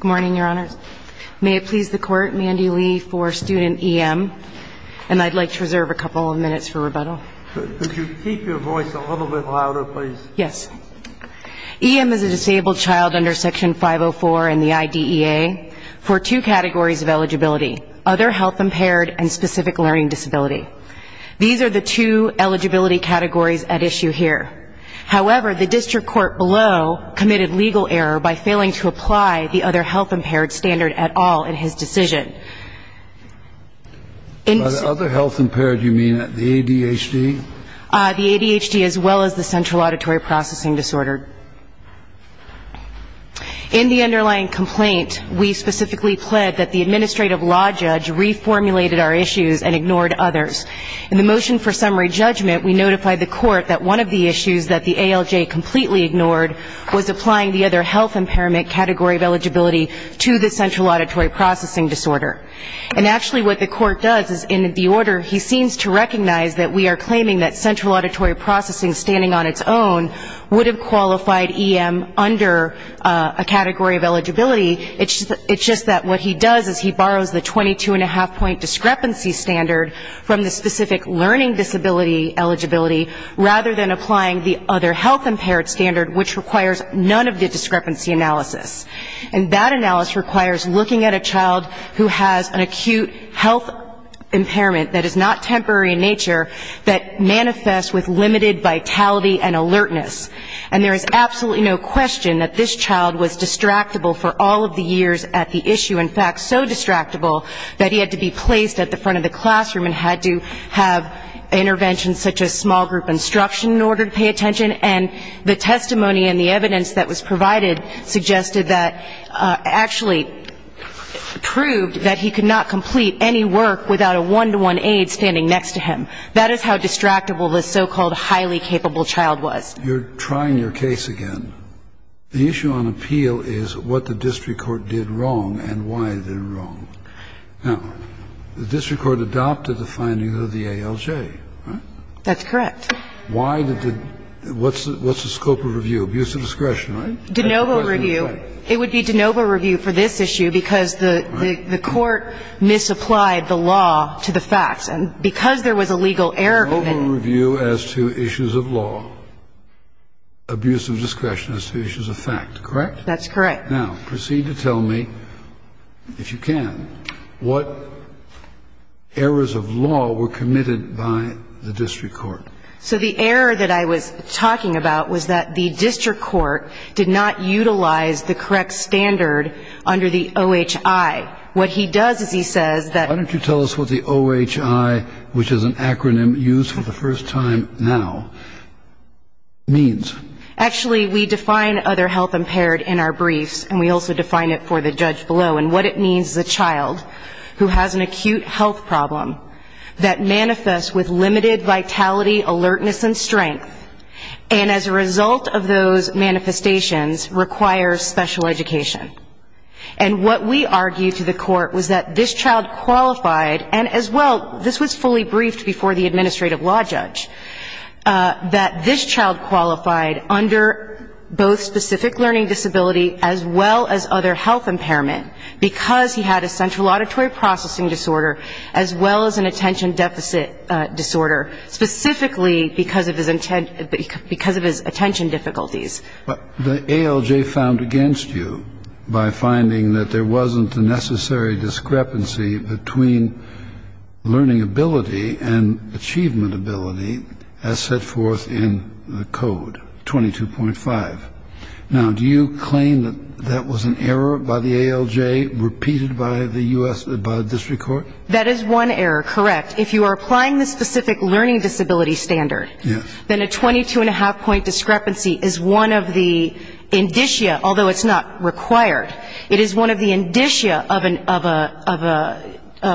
Good morning, Your Honors. May it please the Court, Mandy Lee for student E.M. And I'd like to reserve a couple of minutes for rebuttal. Could you keep your voice a little bit louder, please? Yes. E.M. is a disabled child under Section 504 in the IDEA for two categories of eligibility, other health-impaired and specific learning disability. These are the two eligibility categories at issue here. However, the district court below committed legal error by failing to apply the other health-impaired standard at all in his decision. By other health-impaired, you mean the ADHD? The ADHD as well as the central auditory processing disorder. In the underlying complaint, we specifically pled that the administrative law judge reformulated our issues and ignored others. In the motion for summary judgment, we notified the court that one of the issues that the ALJ completely ignored was applying the other health-impairment category of eligibility to the central auditory processing disorder. And actually what the court does is in the order he seems to recognize that we are claiming that central auditory processing standing on its own would have qualified E.M. under a category of eligibility. It's just that what he does is he borrows the 22.5 point discrepancy standard from the specific learning disability eligibility, rather than applying the other health-impaired standard, which requires none of the discrepancy analysis. And that analysis requires looking at a child who has an acute health impairment that is not temporary in nature, that manifests with limited vitality and alertness. And there is absolutely no question that this child was distractible for all of the years at the issue. In fact, so distractible that he had to be placed at the front of the classroom and had to have interventions such as small group instruction in order to pay attention. And the testimony and the evidence that was provided suggested that actually proved that he could not complete any work without a one-to-one aide standing next to him. That is how distractible the so-called highly capable child was. You're trying your case again. The issue on appeal is what the district court did wrong and why it did wrong. Now, the district court adopted the findings of the ALJ, right? That's correct. Why did the – what's the scope of review? Abuse of discretion, right? De novo review. It would be de novo review for this issue because the court misapplied the law to the facts. And because there was a legal error in it – De novo review as to issues of law. Abuse of discretion as to issues of fact, correct? That's correct. Now, proceed to tell me, if you can, what errors of law were committed by the district court. So the error that I was talking about was that the district court did not utilize the correct standard under the OHI. What he does is he says that – Why don't you tell us what the OHI, which is an acronym used for the first time now, means? Actually, we define other health impaired in our briefs, and we also define it for the judge below. And what it means is a child who has an acute health problem that manifests with limited vitality, alertness, and strength, and as a result of those manifestations requires special education. And what we argue to the court was that this child qualified, and as well, this was fully briefed before the administrative law judge, that this child qualified under both specific learning disability as well as other health impairment because he had a central auditory processing disorder as well as an attention deficit disorder, specifically because of his attention difficulties. But the ALJ found against you by finding that there wasn't a necessary discrepancy between learning ability and achievement ability as set forth in the code, 22.5. Now, do you claim that that was an error by the ALJ repeated by the U.S. – by the district court? That is one error, correct. If you are applying the specific learning disability standard, then a 22.5 point discrepancy is one of the indicia, although it's not required, it is one of the indicia of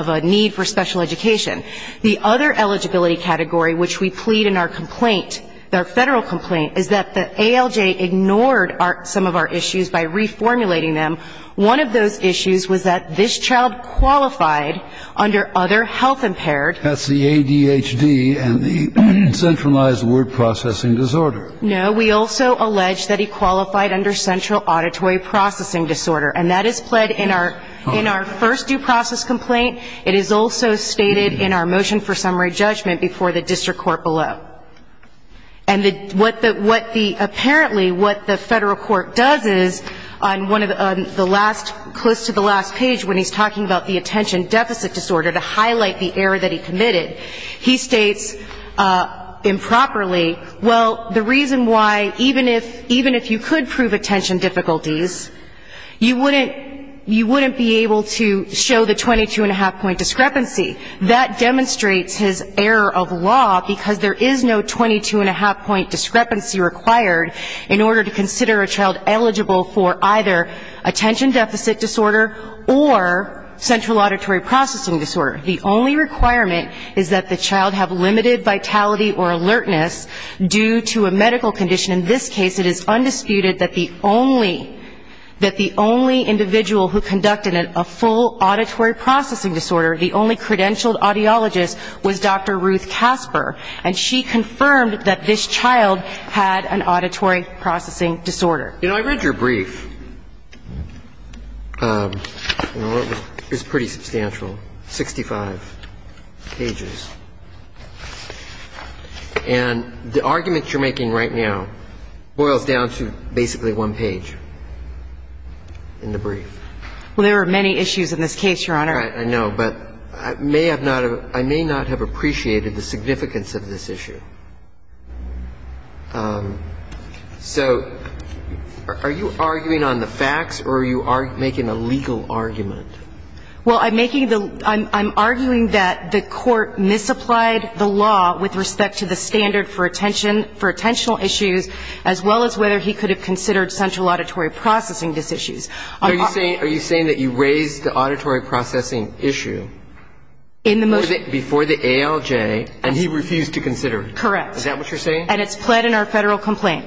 a need for special education. The other eligibility category which we plead in our complaint, our federal complaint, is that the ALJ ignored some of our issues by reformulating them. One of those issues was that this child qualified under other health impaired. That's the ADHD and the centralized word processing disorder. No. We also allege that he qualified under central auditory processing disorder, and that is pled in our first due process complaint. It is also stated in our motion for summary judgment before the district court below. And what the – apparently what the federal court does is on one of the last – close to the last page when he's talking about the attention deficit disorder, to highlight the error that he committed, he states improperly, well, the reason why even if you could prove attention difficulties, you wouldn't be able to show the 22.5 point discrepancy. That demonstrates his error of law, because there is no 22.5 point discrepancy required in order to consider a child eligible for either attention deficit disorder or central auditory processing disorder. The only requirement is that the child have limited vitality or alertness due to a medical condition. In this case, it is undisputed that the only – that the only individual who conducted a full auditory processing disorder, the only credentialed audiologist, was Dr. Ruth Casper, and she confirmed that this child had an auditory processing disorder. I read your brief. It was pretty substantial, 65 pages. And the argument you're making right now boils down to basically one page in the brief. Well, there are many issues in this case, Your Honor. I know. But I may have not – I may not have appreciated the significance of this issue. So are you arguing on the facts or are you making a legal argument? Well, I'm making the – I'm arguing that the court misapplied the law with respect to the standard for attention – for attentional issues, as well as whether he could have considered central auditory processing dis-issues. Are you saying – are you saying that you raised the auditory processing issue before the ALJ and he refused to consider it? Correct. Is that what you're saying? And it's pled in our federal complaint.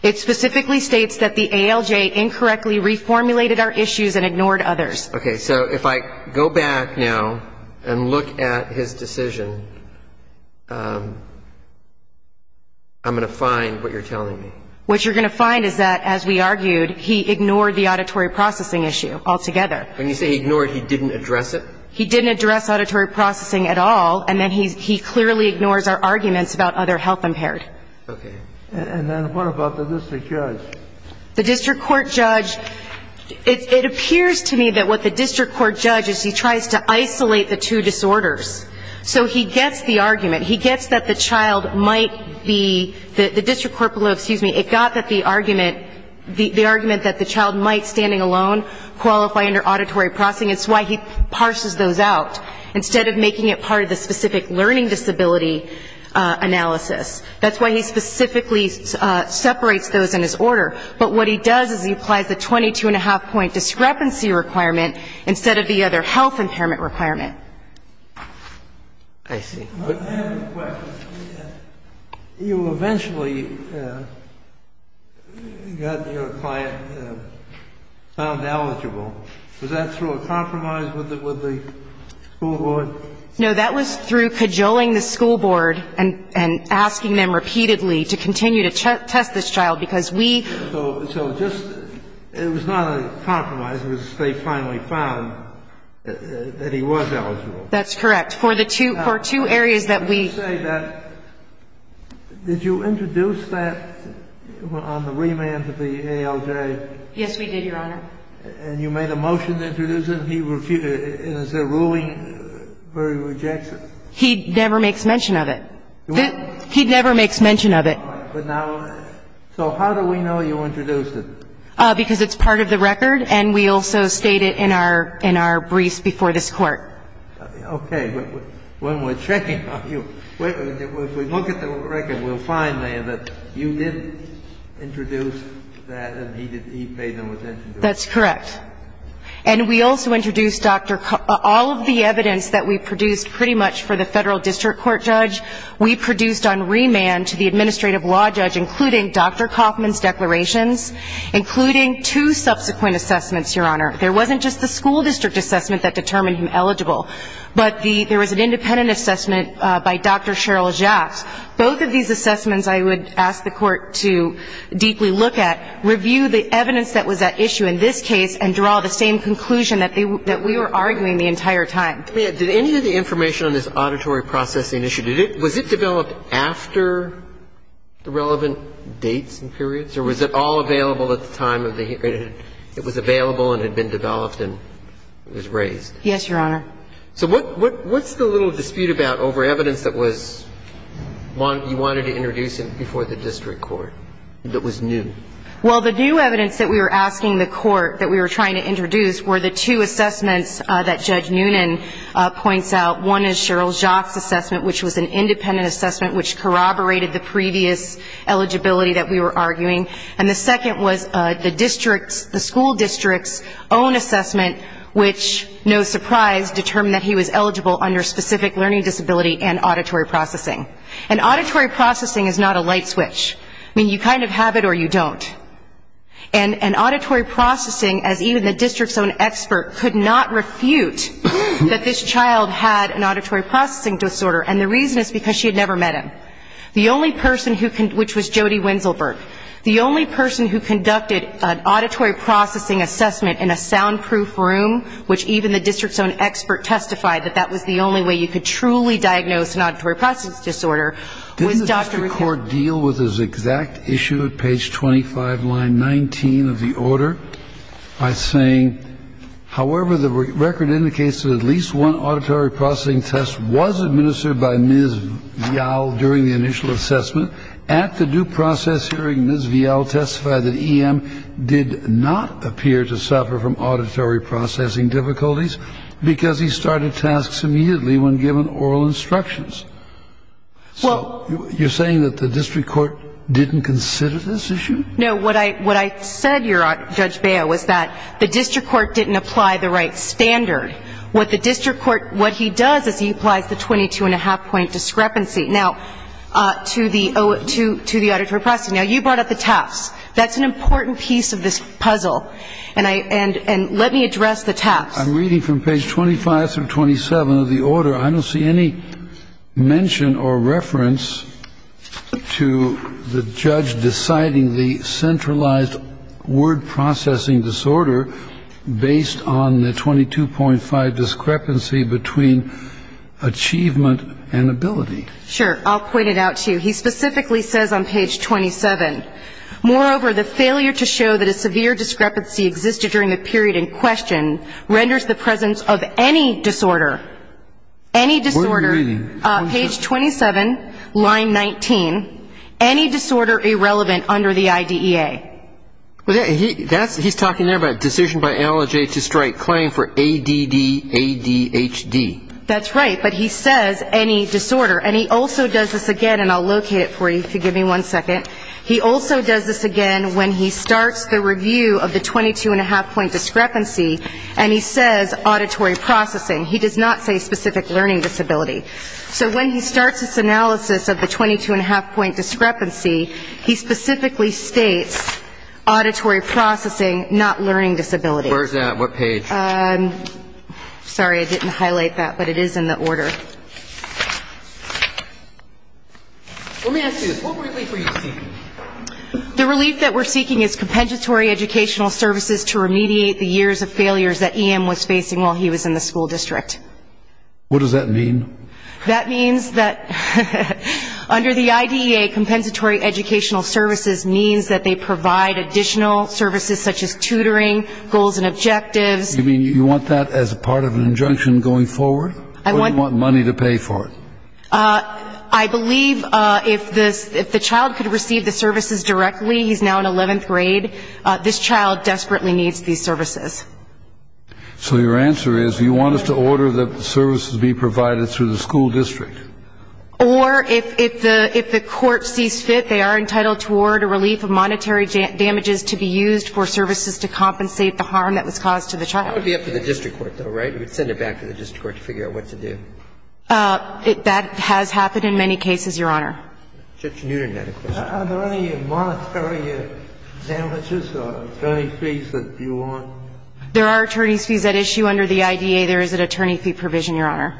It specifically states that the ALJ incorrectly reformulated our issues and ignored others. Okay. So if I go back now and look at his decision, I'm going to find what you're telling me. What you're going to find is that, as we argued, he ignored the auditory processing issue altogether. When you say ignored, he didn't address it? He didn't address auditory processing at all, and then he clearly ignores our arguments about other health impaired. Okay. And then what about the district judge? The district court judge – it appears to me that what the district court judge is he tries to isolate the two disorders. So he gets the argument. He gets that the child might be – the district court below – excuse me – it got that the argument – the argument that the child might, standing alone, qualify under auditory processing. It's why he parses those out instead of making it part of the specific learning disability analysis. That's why he specifically separates those in his order. But what he does is he applies the 22-and-a-half point discrepancy requirement instead of the other health impairment requirement. I see. I have a question. You eventually got your client found eligible. Was that through a compromise with the school board? No. That was through cajoling the school board and asking them repeatedly to continue to test this child, because we – So just – it was not a compromise. It was they finally found that he was eligible. That's correct. For the two – for two areas that we – Let me say that, did you introduce that on the remand of the ALJ? Yes, we did, Your Honor. And you made a motion to introduce it, and he refused it. And is there ruling where he rejects it? He never makes mention of it. He never makes mention of it. All right. But now – so how do we know you introduced it? Because it's part of the record, and we also state it in our – in our briefs before this Court. Okay. When we're checking on you, if we look at the record, we'll find there that you did introduce that and he paid no attention to it. That's correct. And we also introduced Dr. – all of the evidence that we produced pretty much for the Federal District Court judge, we produced on remand to the administrative law judge, including Dr. Kaufman's declarations, including two subsequent assessments, Your Honor. There wasn't just the school district assessment that determined him eligible, but the – there was an independent assessment by Dr. Cheryl Jaffs. Both of these assessments I would ask the Court to deeply look at, review the evidence that was at issue in this case, and draw the same conclusion that we were arguing the entire time. Did any of the information on this auditory processing issue, was it developed after the relevant dates and periods, or was it all available at the time of the – it was available and had been developed and was raised? Yes, Your Honor. So what's the little dispute about over evidence that was – you wanted to introduce it before the district court that was new? Well, the new evidence that we were asking the Court that we were trying to introduce were the two assessments that Judge Noonan points out. One is Cheryl Jaff's assessment, which was an independent assessment which corroborated the previous eligibility that we were arguing. And the second was the district's – the school district's own assessment, which, no surprise, determined that he was eligible under specific learning disability and auditory processing. And auditory processing is not a light switch. I mean, you kind of have it or you don't. And auditory processing, as even the district's own expert could not refute that this child had an auditory processing disorder, and the reason is because she had never met him. The only person who – which was Jody Winzelberg. The only person who conducted an auditory processing assessment in a soundproof room, which even the district's own expert testified that that was the only way you could truly diagnose an auditory processing disorder, was Dr. Rickett. Did the district court deal with this exact issue at page 25, line 19 of the order by saying, However, the record indicates that at least one auditory processing test was administered by Ms. Vial during the initial assessment. At the due process hearing, Ms. Vial testified that E.M. did not appear to suffer from auditory processing difficulties because he started tasks immediately when given oral instructions. So you're saying that the district court didn't consider this issue? No. What I said, Judge Baio, was that the district court didn't apply the right standard. What the district court – what he does is he applies the 22-and-a-half point discrepancy. Now, to the auditory processing. Now, you brought up the TAFs. That's an important piece of this puzzle. And let me address the TAFs. I'm reading from page 25 through 27 of the order. I don't see any mention or reference to the judge deciding the centralized word processing disorder based on the 22.5 discrepancy between achievement and ability. Sure. I'll point it out to you. He specifically says on page 27, Moreover, the failure to show that a severe discrepancy existed during the period in question renders the presence of any disorder – any disorder – What are you reading? Page 27, line 19. Any disorder irrelevant under the IDEA. He's talking there about a decision by LHA to strike claim for ADDADHD. That's right. But he says any disorder. And he also does this again, and I'll locate it for you if you give me one second. He also does this again when he starts the review of the 22.5 point discrepancy, and he says auditory processing. He does not say specific learning disability. So when he starts this analysis of the 22.5 point discrepancy, he specifically states auditory processing, not learning disability. Where is that? What page? Sorry, I didn't highlight that, but it is in the order. Let me ask you this. What relief are you seeking? The relief that we're seeking is compensatory educational services to remediate the years of failures that EM was facing while he was in the school district. What does that mean? That means that under the IDEA, compensatory educational services means that they provide additional services, such as tutoring, goals and objectives. You mean you want that as part of an injunction going forward? Or do you want money to pay for it? I believe if the child could receive the services directly, he's now in 11th grade, this child desperately needs these services. So your answer is you want us to order the services be provided through the school district? Or if the court sees fit, they are entitled to order relief of monetary damages to be used for services to compensate the harm that was caused to the child. That would be up to the district court, though, right? You would send it back to the district court to figure out what to do. That has happened in many cases, Your Honor. Judge Newnan had a question. Are there any monetary damages or attorney fees that you want? There are attorney fees at issue under the IDEA. There is an attorney fee provision, Your Honor.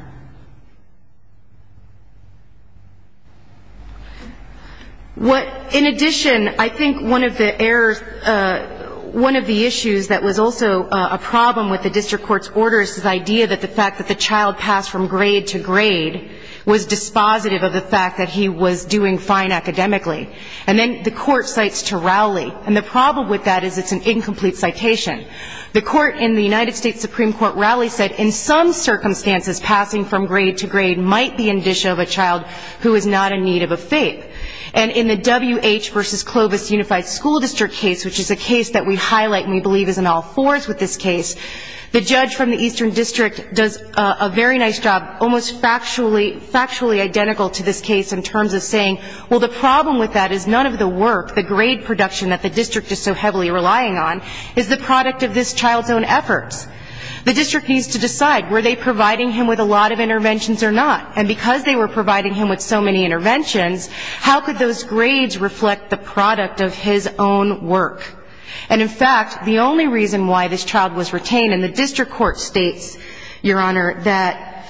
In addition, I think one of the issues that was also a problem with the district court's order is the idea that the fact that the child passed from grade to grade was dispositive of the fact that he was doing fine academically. And then the court cites Turali. And the problem with that is it's an incomplete citation. The court in the United States Supreme Court rally said, in some circumstances, passing from grade to grade might be an issue of a child who is not in need of a faith. And in the WH v. Clovis Unified School District case, which is a case that we highlight and we believe is in all fours with this case, the judge from the Eastern District does a very nice job, almost factually identical to this case in terms of saying, well, the problem with that is none of the work, the grade production that the district is so heavily relying on, is the product of this child's own efforts. The district needs to decide, were they providing him with a lot of interventions or not? And because they were providing him with so many interventions, how could those grades reflect the product of his own work? And, in fact, the only reason why this child was retained, and the district court states, Your Honor, that,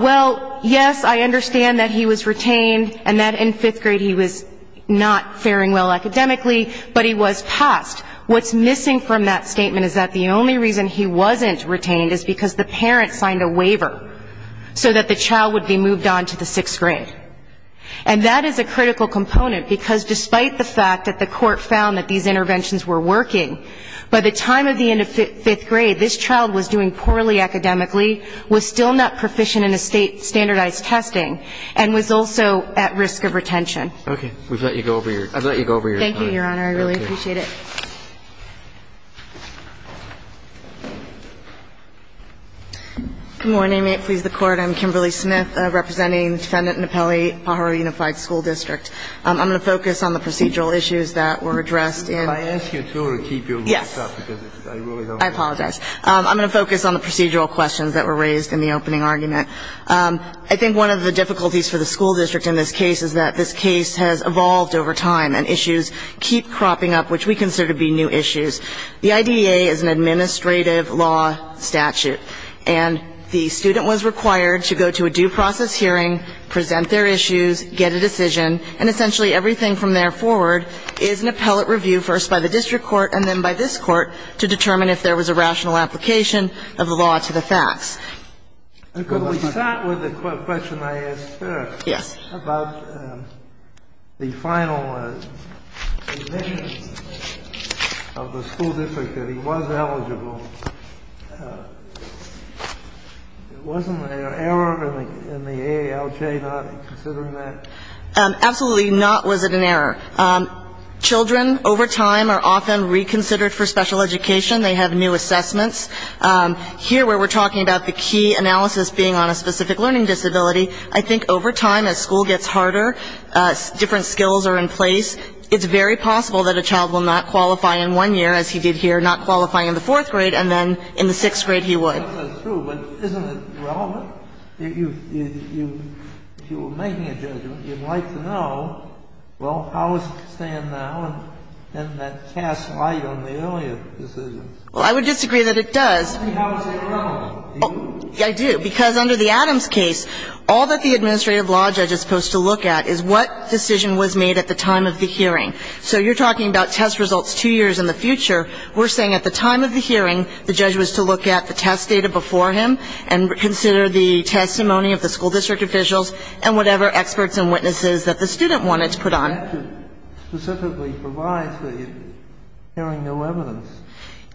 well, yes, I understand that he was retained and that in fifth grade he was not faring well academically, but he was passed. What's missing from that statement is that the only reason he wasn't retained is because the parent signed a waiver so that the child would be moved on to the sixth grade. And that is a critical component, because despite the fact that the court found that these interventions were working, by the time of the end of fifth grade, this child was doing poorly academically, was still not proficient in a state standardized testing, and was also at risk of retention. Okay. I've let you go over your time. Thank you, Your Honor. I really appreciate it. Thank you. Good morning. May it please the Court. I'm Kimberly Smith, representing Defendant Nappelli, Pajaro Unified School District. I'm going to focus on the procedural issues that were addressed in the case. Can I ask you to keep your voice up? Yes. I apologize. I'm going to focus on the procedural questions that were raised in the opening argument. I think one of the difficulties for the school district in this case is that this case has evolved over time, and issues keep cropping up, which we consider to be new issues. The IDEA is an administrative law statute, and the student was required to go to a due process hearing, present their issues, get a decision, and essentially everything from there forward is an appellate review, first by the district court and then by this court, to determine if there was a rational application of the law to the facts. Could we start with the question I asked first? Yes. About the final admission of the school district that he was eligible. Wasn't there an error in the AALJ not considering that? Absolutely not was it an error. Children over time are often reconsidered for special education. They have new assessments. Here where we're talking about the key analysis being on a specific learning disability, I think over time as school gets harder, different skills are in place. It's very possible that a child will not qualify in one year, as he did here, not qualify in the fourth grade, and then in the sixth grade he would. That's true, but isn't it relevant? If you were making a judgment, you'd like to know, well, how is it staying now? And then that casts light on the earlier decisions. Well, I would disagree that it does. I mean, how is it relevant? I do. Because under the Adams case, all that the administrative law judge is supposed to look at is what decision was made at the time of the hearing. So you're talking about test results two years in the future. We're saying at the time of the hearing, the judge was to look at the test data before him and consider the testimony of the school district officials and whatever experts and witnesses that the student wanted to put on. And that should specifically provide for hearing no evidence.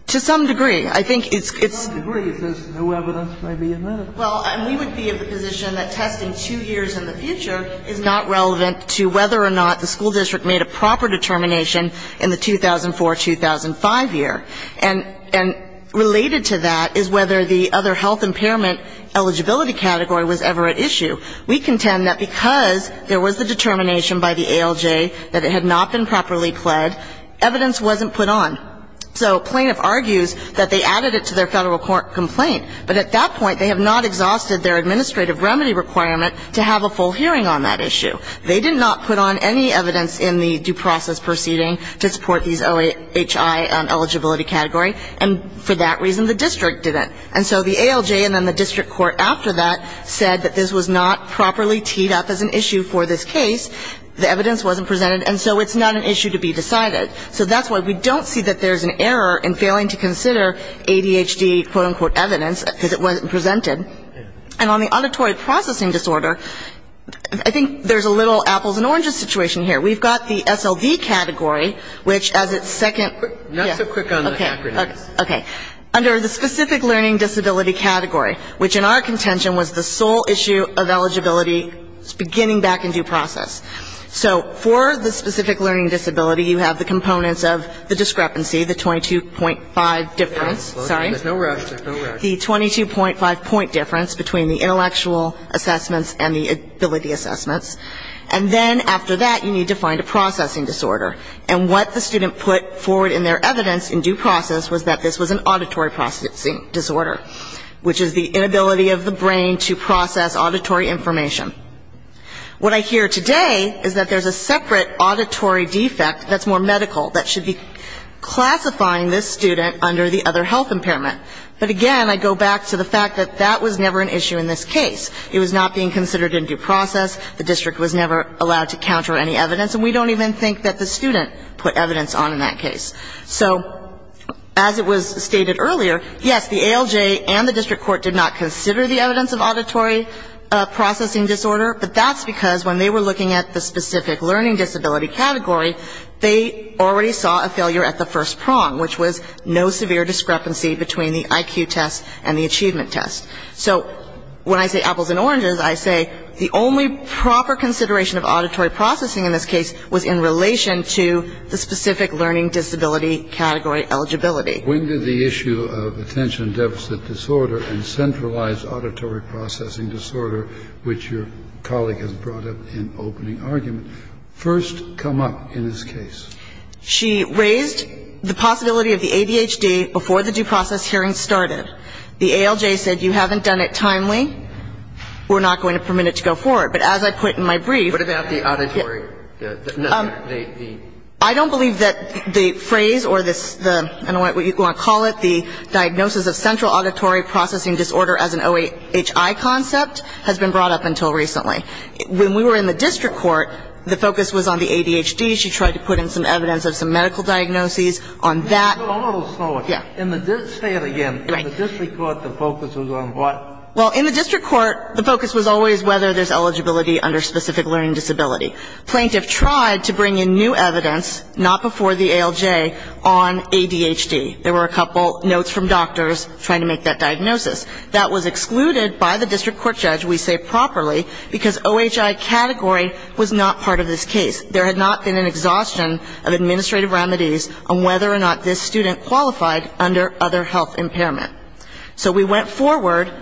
To some degree. I think it's — To some degree. It says no evidence may be admitted. Well, and we would be of the position that testing two years in the future is not relevant to whether or not the school district made a proper determination in the 2004-2005 year. And related to that is whether the other health impairment eligibility category was ever at issue. We contend that because there was the determination by the ALJ that it had not been properly pled, evidence wasn't put on. So plaintiff argues that they added it to their federal court complaint. But at that point, they have not exhausted their administrative remedy requirement to have a full hearing on that issue. They did not put on any evidence in the due process proceeding to support these OHI eligibility category. And for that reason, the district didn't. And so the ALJ and then the district court after that said that this was not properly teed up as an issue for this case. The evidence wasn't presented. And so it's not an issue to be decided. So that's why we don't see that there's an error in failing to consider ADHD, quote, unquote, evidence, because it wasn't presented. And on the auditory processing disorder, I think there's a little apples and oranges situation here. We've got the SLV category, which as its second — Not so quick on the acronyms. Okay. Under the specific learning disability category, which in our contention was the sole issue of eligibility beginning back in due process. So for the specific learning disability, you have the components of the discrepancy, the 22.5 difference. Sorry? There's no rush. There's no rush. The 22.5 point difference between the intellectual assessments and the ability assessments. And then after that, you need to find a processing disorder. And what the student put forward in their evidence in due process was that this was an auditory processing disorder, which is the inability of the brain to process auditory information. What I hear today is that there's a separate auditory defect that's more medical that should be classifying this student under the other health impairment. But again, I go back to the fact that that was never an issue in this case. It was not being considered in due process. The district was never allowed to counter any evidence. And we don't even think that the student put evidence on in that case. So as it was stated earlier, yes, the ALJ and the district court did not consider the evidence of auditory processing disorder. But that's because when they were looking at the specific learning disability category, they already saw a failure at the first prong, which was no severe discrepancy between the IQ test and the achievement test. So when I say apples and oranges, I say the only proper consideration of auditory processing in this case was in relation to the specific learning disability category eligibility. When did the issue of attention deficit disorder and centralized auditory processing disorder, which your colleague has brought up in opening argument, first come up in this case? She raised the possibility of the ADHD before the due process hearing started. The ALJ said you haven't done it timely. We're not going to permit it to go forward. But as I put in my brief, What about the auditory? I don't believe that the phrase or the, I don't know what you want to call it, the diagnosis of central auditory processing disorder as an OHI concept has been brought up until recently. When we were in the district court, the focus was on the ADHD. She tried to put in some evidence of some medical diagnoses on that. Say it again. In the district court, the focus was on what? Well, in the district court, the focus was always whether there's eligibility under specific learning disability. Plaintiff tried to bring in new evidence, not before the ALJ, on ADHD. There were a couple notes from doctors trying to make that diagnosis. That was excluded by the district court judge, we say properly, because OHI category was not part of this case. There had not been an exhaustion of administrative remedies on whether or not this student qualified under other health impairment. So we went forward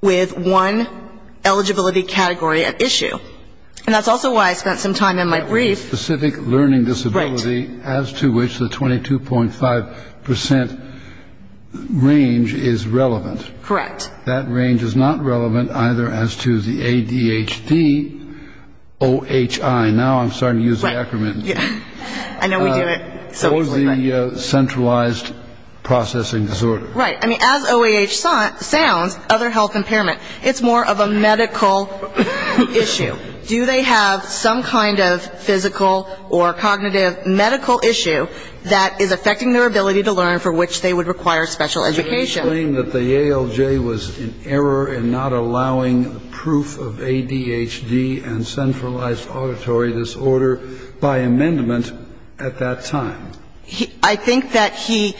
with one eligibility category at issue. And that's also why I spent some time in my brief. Specific learning disability as to which the 22.5% range is relevant. Correct. That range is not relevant either as to the ADHD OHI. Now I'm starting to use the acronym. I know we do it. What was the centralized processing disorder? Right. I mean, as OAH sounds, other health impairment, it's more of a medical issue. Do they have some kind of physical or cognitive medical issue that is affecting their ability to learn for which they would require special education? The ALJ was in error in not allowing proof of ADHD and centralized auditory disorder by amendment at that time. I think that he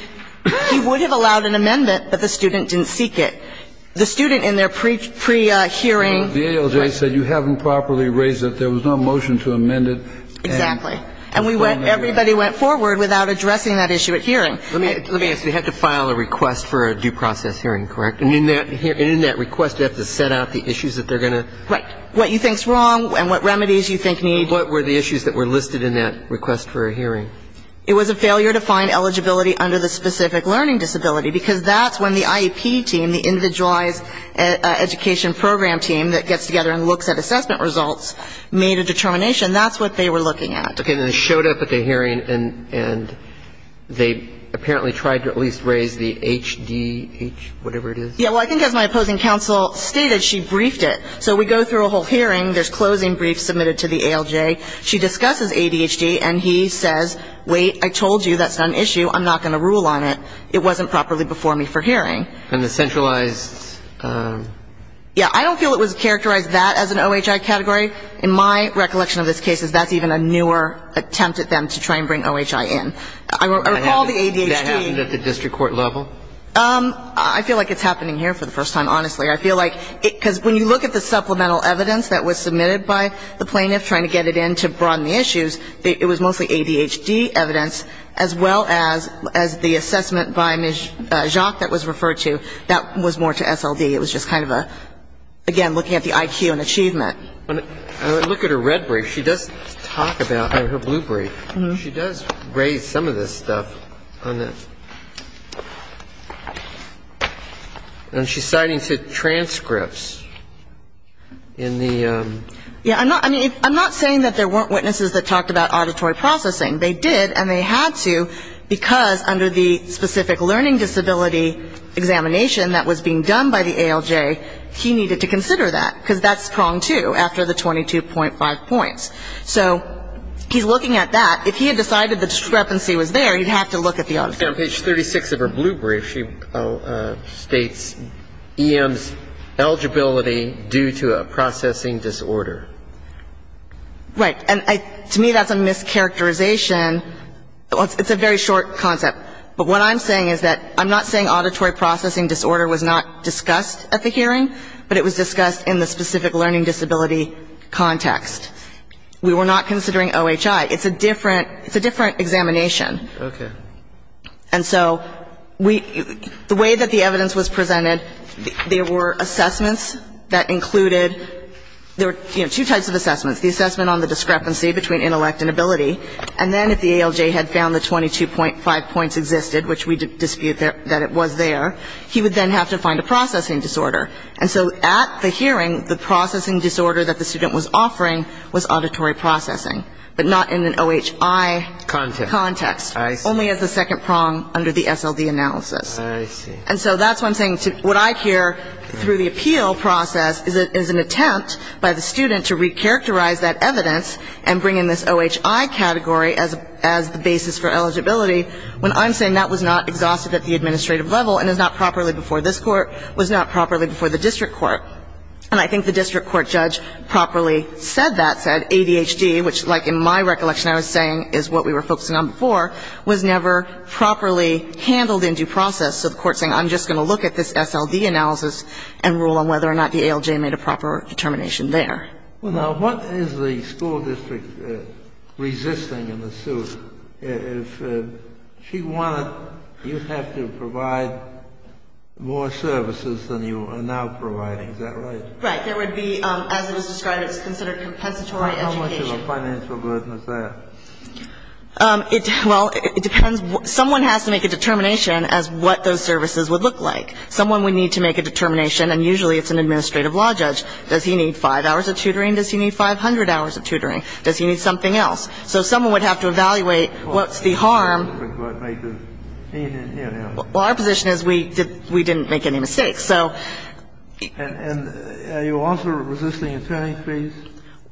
would have allowed an amendment, but the student didn't seek it. The student in their pre-hearing. The ALJ said you haven't properly raised it. There was no motion to amend it. Exactly. And everybody went forward without addressing that issue at hearing. Let me ask, you had to file a request for a due process hearing, correct? And in that request, you have to set out the issues that they're going to? Right. What you think is wrong and what remedies you think need. What were the issues that were listed in that request for a hearing? It was a failure to find eligibility under the specific learning disability, because that's when the IEP team, the individualized education program team that gets together and looks at assessment results, made a determination. That's what they were looking at. Okay. They showed up at the hearing, and they apparently tried to at least raise the HDH, whatever it is. Yeah. Well, I think as my opposing counsel stated, she briefed it. So we go through a whole hearing. There's closing briefs submitted to the ALJ. She discusses ADHD, and he says, wait, I told you that's not an issue. I'm not going to rule on it. It wasn't properly before me for hearing. And the centralized. Yeah. I don't feel it was characterized that as an OHI category. In my recollection of this case, that's even a newer attempt at them to try and bring OHI in. I recall the ADHD. Did that happen at the district court level? I feel like it's happening here for the first time, honestly. I feel like because when you look at the supplemental evidence that was submitted by the plaintiff trying to get it in to broaden the issues, it was mostly ADHD evidence, as well as the assessment by Mijok that was referred to, that was more to SLD. It was just kind of a, again, looking at the IQ and achievement. When I look at her red brief, she does talk about her blue brief. She does raise some of this stuff on that. And she's citing transcripts in the ‑‑ Yeah. I'm not saying that there weren't witnesses that talked about auditory processing. They did, and they had to because under the specific learning disability examination that was being done by the ALJ, he needed to consider that because that's strong, too, after the 22.5 points. So he's looking at that. If he had decided the discrepancy was there, he'd have to look at the auditory. On page 36 of her blue brief, she states EM's eligibility due to a processing disorder. Right. And to me, that's a mischaracterization. It's a very short concept. But what I'm saying is that I'm not saying auditory processing disorder was not discussed at the hearing, but it was discussed in the specific learning disability context. We were not considering OHI. It's a different examination. Okay. And so the way that the evidence was presented, there were assessments that included ‑‑ there were two types of assessments, the assessment on the discrepancy between intellect and ability, and then if the ALJ had found the 22.5 points existed, which we dispute that it was there, he would then have to find a processing disorder. And so at the hearing, the processing disorder that the student was offering was auditory processing, but not in an OHI context, only as a second prong under the SLD analysis. I see. And so that's what I'm saying. What I hear through the appeal process is an attempt by the student to recharacterize that evidence and bring in this OHI category as the basis for eligibility, when I'm saying that was not exhausted at the administrative level and is not properly before this court, was not properly before the district court. And I think the district court judge properly said that, said ADHD, which like in my recollection I was saying is what we were focusing on before, was never properly handled in due process. So the court's saying I'm just going to look at this SLD analysis and rule on whether or not the ALJ made a proper determination there. Well, now, what is the school district resisting in the suit? If she wanted, you'd have to provide more services than you are now providing. Is that right? Right. There would be, as it was described, it's considered compensatory education. How much of a financial burden is that? Well, it depends. Someone has to make a determination as what those services would look like. Someone would need to make a determination, and usually it's an administrative law judge. Does he need 5 hours of tutoring? Does he need 500 hours of tutoring? Does he need something else? So someone would have to evaluate what's the harm. Well, our position is we didn't make any mistakes, so. And are you also resisting attorney's fees?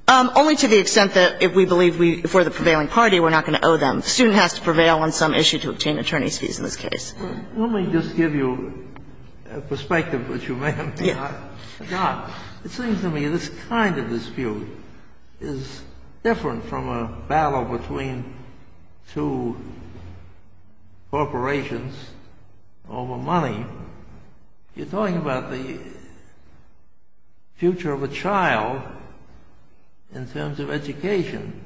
Only to the extent that if we believe we, if we're the prevailing party, we're not going to owe them. The student has to prevail on some issue to obtain attorney's fees in this case. Let me just give you a perspective, which you may have not. It seems to me this kind of dispute is different from a battle between two corporations over money. You're talking about the future of a child in terms of education,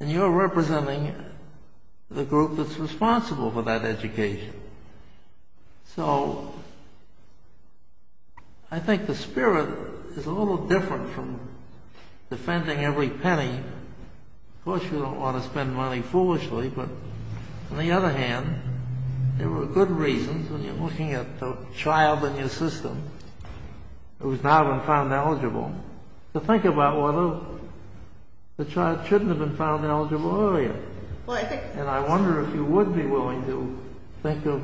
and you're representing the group that's responsible for that education. So I think the spirit is a little different from defending every penny. Of course, you don't want to spend money foolishly, but on the other hand, there are good reasons when you're looking at the child in your system who's now been found eligible to think about whether the child shouldn't have been found eligible earlier. And I wonder if you would be willing to think of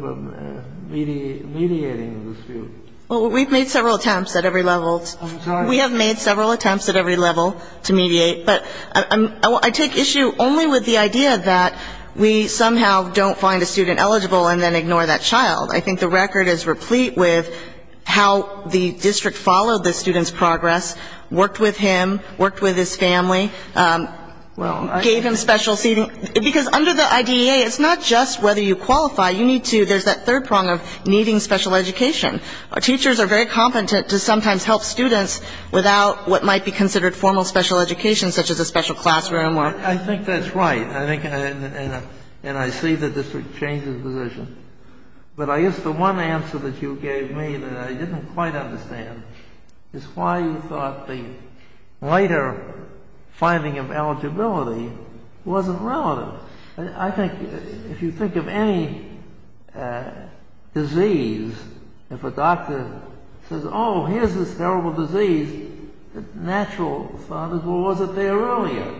mediating the dispute. Well, we've made several attempts at every level. I'm sorry? We have made several attempts at every level to mediate. But I take issue only with the idea that we somehow don't find a student eligible and then ignore that child. I think the record is replete with how the district followed the student's progress, worked with him, worked with his family, gave him special seating because under the IDEA, it's not just whether you qualify. You need to ‑‑ there's that third prong of needing special education. Teachers are very competent to sometimes help students without what might be considered formal special education, such as a special classroom. I think that's right, and I see the district change its position. But I guess the one answer that you gave me that I didn't quite understand is why you thought the later finding of eligibility wasn't relative. I think if you think of any disease, if a doctor says, oh, here's this terrible disease, the natural thought is, well, was it there earlier?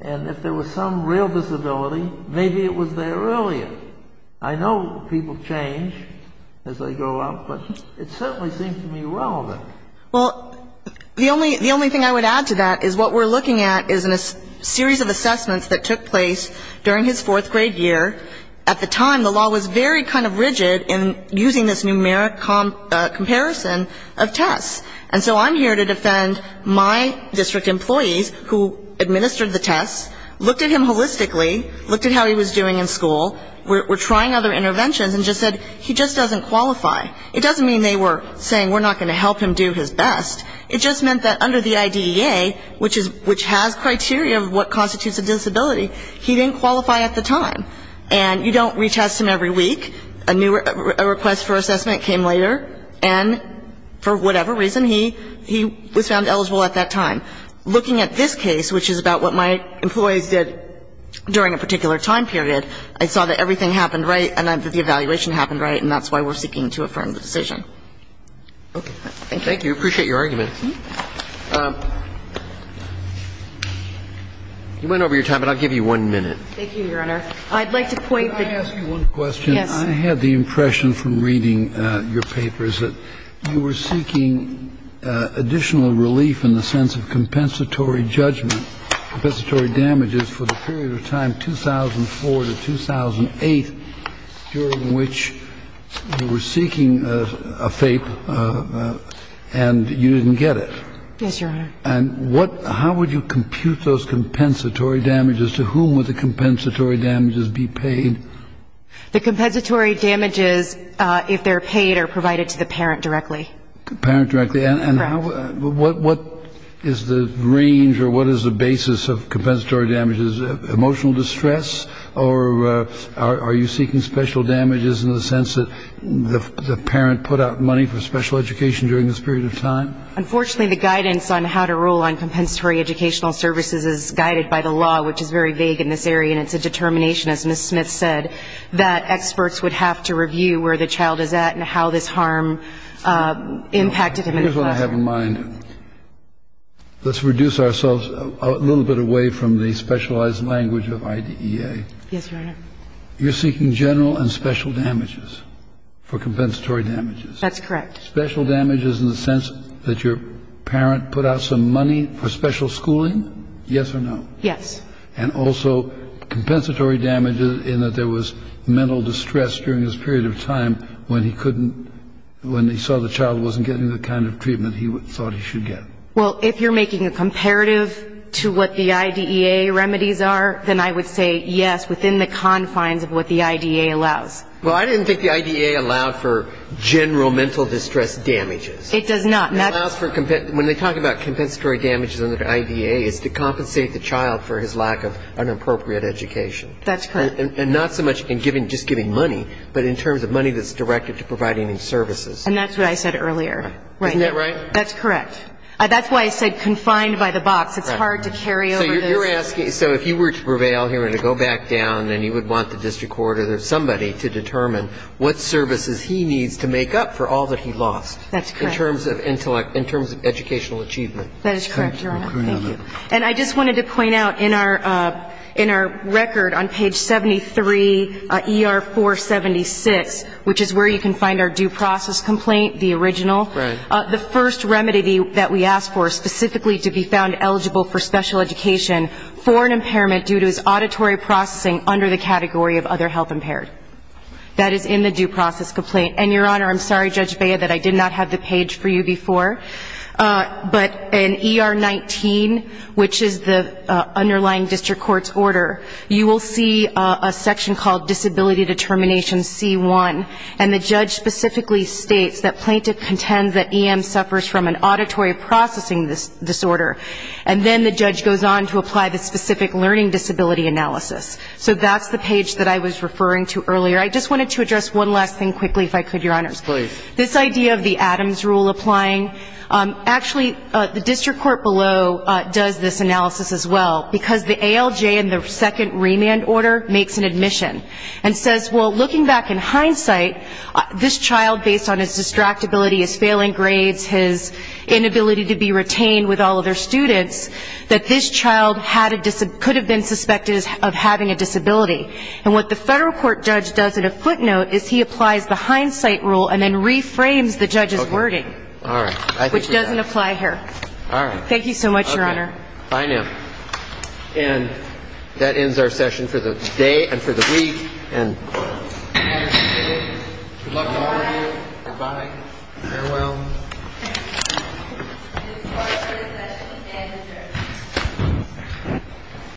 And if there was some real disability, maybe it was there earlier. I know people change as they grow up, but it certainly seems to me relevant. Well, the only thing I would add to that is what we're looking at is a series of assessments that took place during his fourth grade year. At the time, the law was very kind of rigid in using this numeric comparison of tests, and so I'm here to defend my district employees who administered the tests, looked at him holistically, looked at how he was doing in school, were trying other interventions, and just said, he just doesn't qualify. It doesn't mean they were saying we're not going to help him do his best. It just meant that under the IDEA, which has criteria of what constitutes a disability, he didn't qualify at the time. And you don't retest him every week. A new request for assessment came later, and for whatever reason, he was found eligible at that time. Looking at this case, which is about what my employees did during a particular time period, I saw that everything happened right and that the evaluation happened right, and that's why we're seeking to affirm the decision. Okay. Thank you. Roberts. Thank you. I appreciate your argument. You went over your time, but I'll give you one minute. Thank you, Your Honor. I'd like to point the question. Can I ask you one question? Yes. I had the impression from reading your papers that you were seeking additional relief in the sense of compensatory judgment, compensatory damages for the period of time 2004 to 2008 during which you were seeking a FAPE and you didn't get it. Yes, Your Honor. And how would you compute those compensatory damages? To whom would the compensatory damages be paid? The compensatory damages, if they're paid, are provided to the parent directly. The parent directly. Correct. And what is the range or what is the basis of compensatory damages? Emotional distress? Or are you seeking special damages in the sense that the parent put out money for special education during this period of time? Unfortunately, the guidance on how to rule on compensatory educational services is guided by the law, which is very vague in this area, and it's a determination, as Ms. Smith said, that experts would have to review where the child is at and how this harm impacted him in the classroom. Here's what I have in mind. Let's reduce ourselves a little bit away from the specialized language of IDEA. Yes, Your Honor. You're seeking general and special damages for compensatory damages. That's correct. Special damages in the sense that your parent put out some money for special schooling, yes or no? Yes. And also compensatory damages in that there was mental distress during this period of time when he saw the child wasn't getting the kind of treatment he thought he should get. Well, if you're making a comparative to what the IDEA remedies are, then I would say yes within the confines of what the IDEA allows. Well, I didn't think the IDEA allowed for general mental distress damages. It does not. When they talk about compensatory damages under IDEA, it's to compensate the child for his lack of an appropriate education. That's correct. And not so much in just giving money, but in terms of money that's directed to providing him services. And that's what I said earlier. Isn't that right? That's correct. That's why I said confined by the box. It's hard to carry over this. So you're asking, so if you were to prevail here and to go back down and you would want the district court or somebody to determine what services he needs to make up for all that he lost. That's correct. In terms of educational achievement. That is correct, Your Honor. Thank you. And I just wanted to point out in our record on page 73, ER 476, which is where you can find our due process complaint, the original. Right. The first remedy that we asked for specifically to be found eligible for special education for an impairment due to his auditory processing under the category of other health impaired. That is in the due process complaint. And, Your Honor, I'm sorry, Judge Bea, that I did not have the page for you before. But in ER 19, which is the underlying district court's order, you will see a section called disability determination C1. And the judge specifically states that plaintiff contends that EM suffers from an auditory processing disorder. And then the judge goes on to apply the specific learning disability analysis. So that's the page that I was referring to earlier. I just wanted to address one last thing quickly, if I could, Your Honors. Please. This idea of the Adams rule applying. Actually, the district court below does this analysis as well, because the ALJ in the second remand order makes an admission and says, well, looking back in hindsight, this child, based on his distractibility, his failing grades, his inability to be retained with all of their students, that this child could have been suspected of having a disability. And what the federal court judge does in a footnote is he applies the hindsight rule and then reframes the judge's wording. All right. Which doesn't apply here. All right. Thank you so much, Your Honor. Okay. Bye now. And that ends our session for the day and for the week. And good luck to all of you. Good-bye. Good-bye. Farewell. This is the end of the session. And adjourned.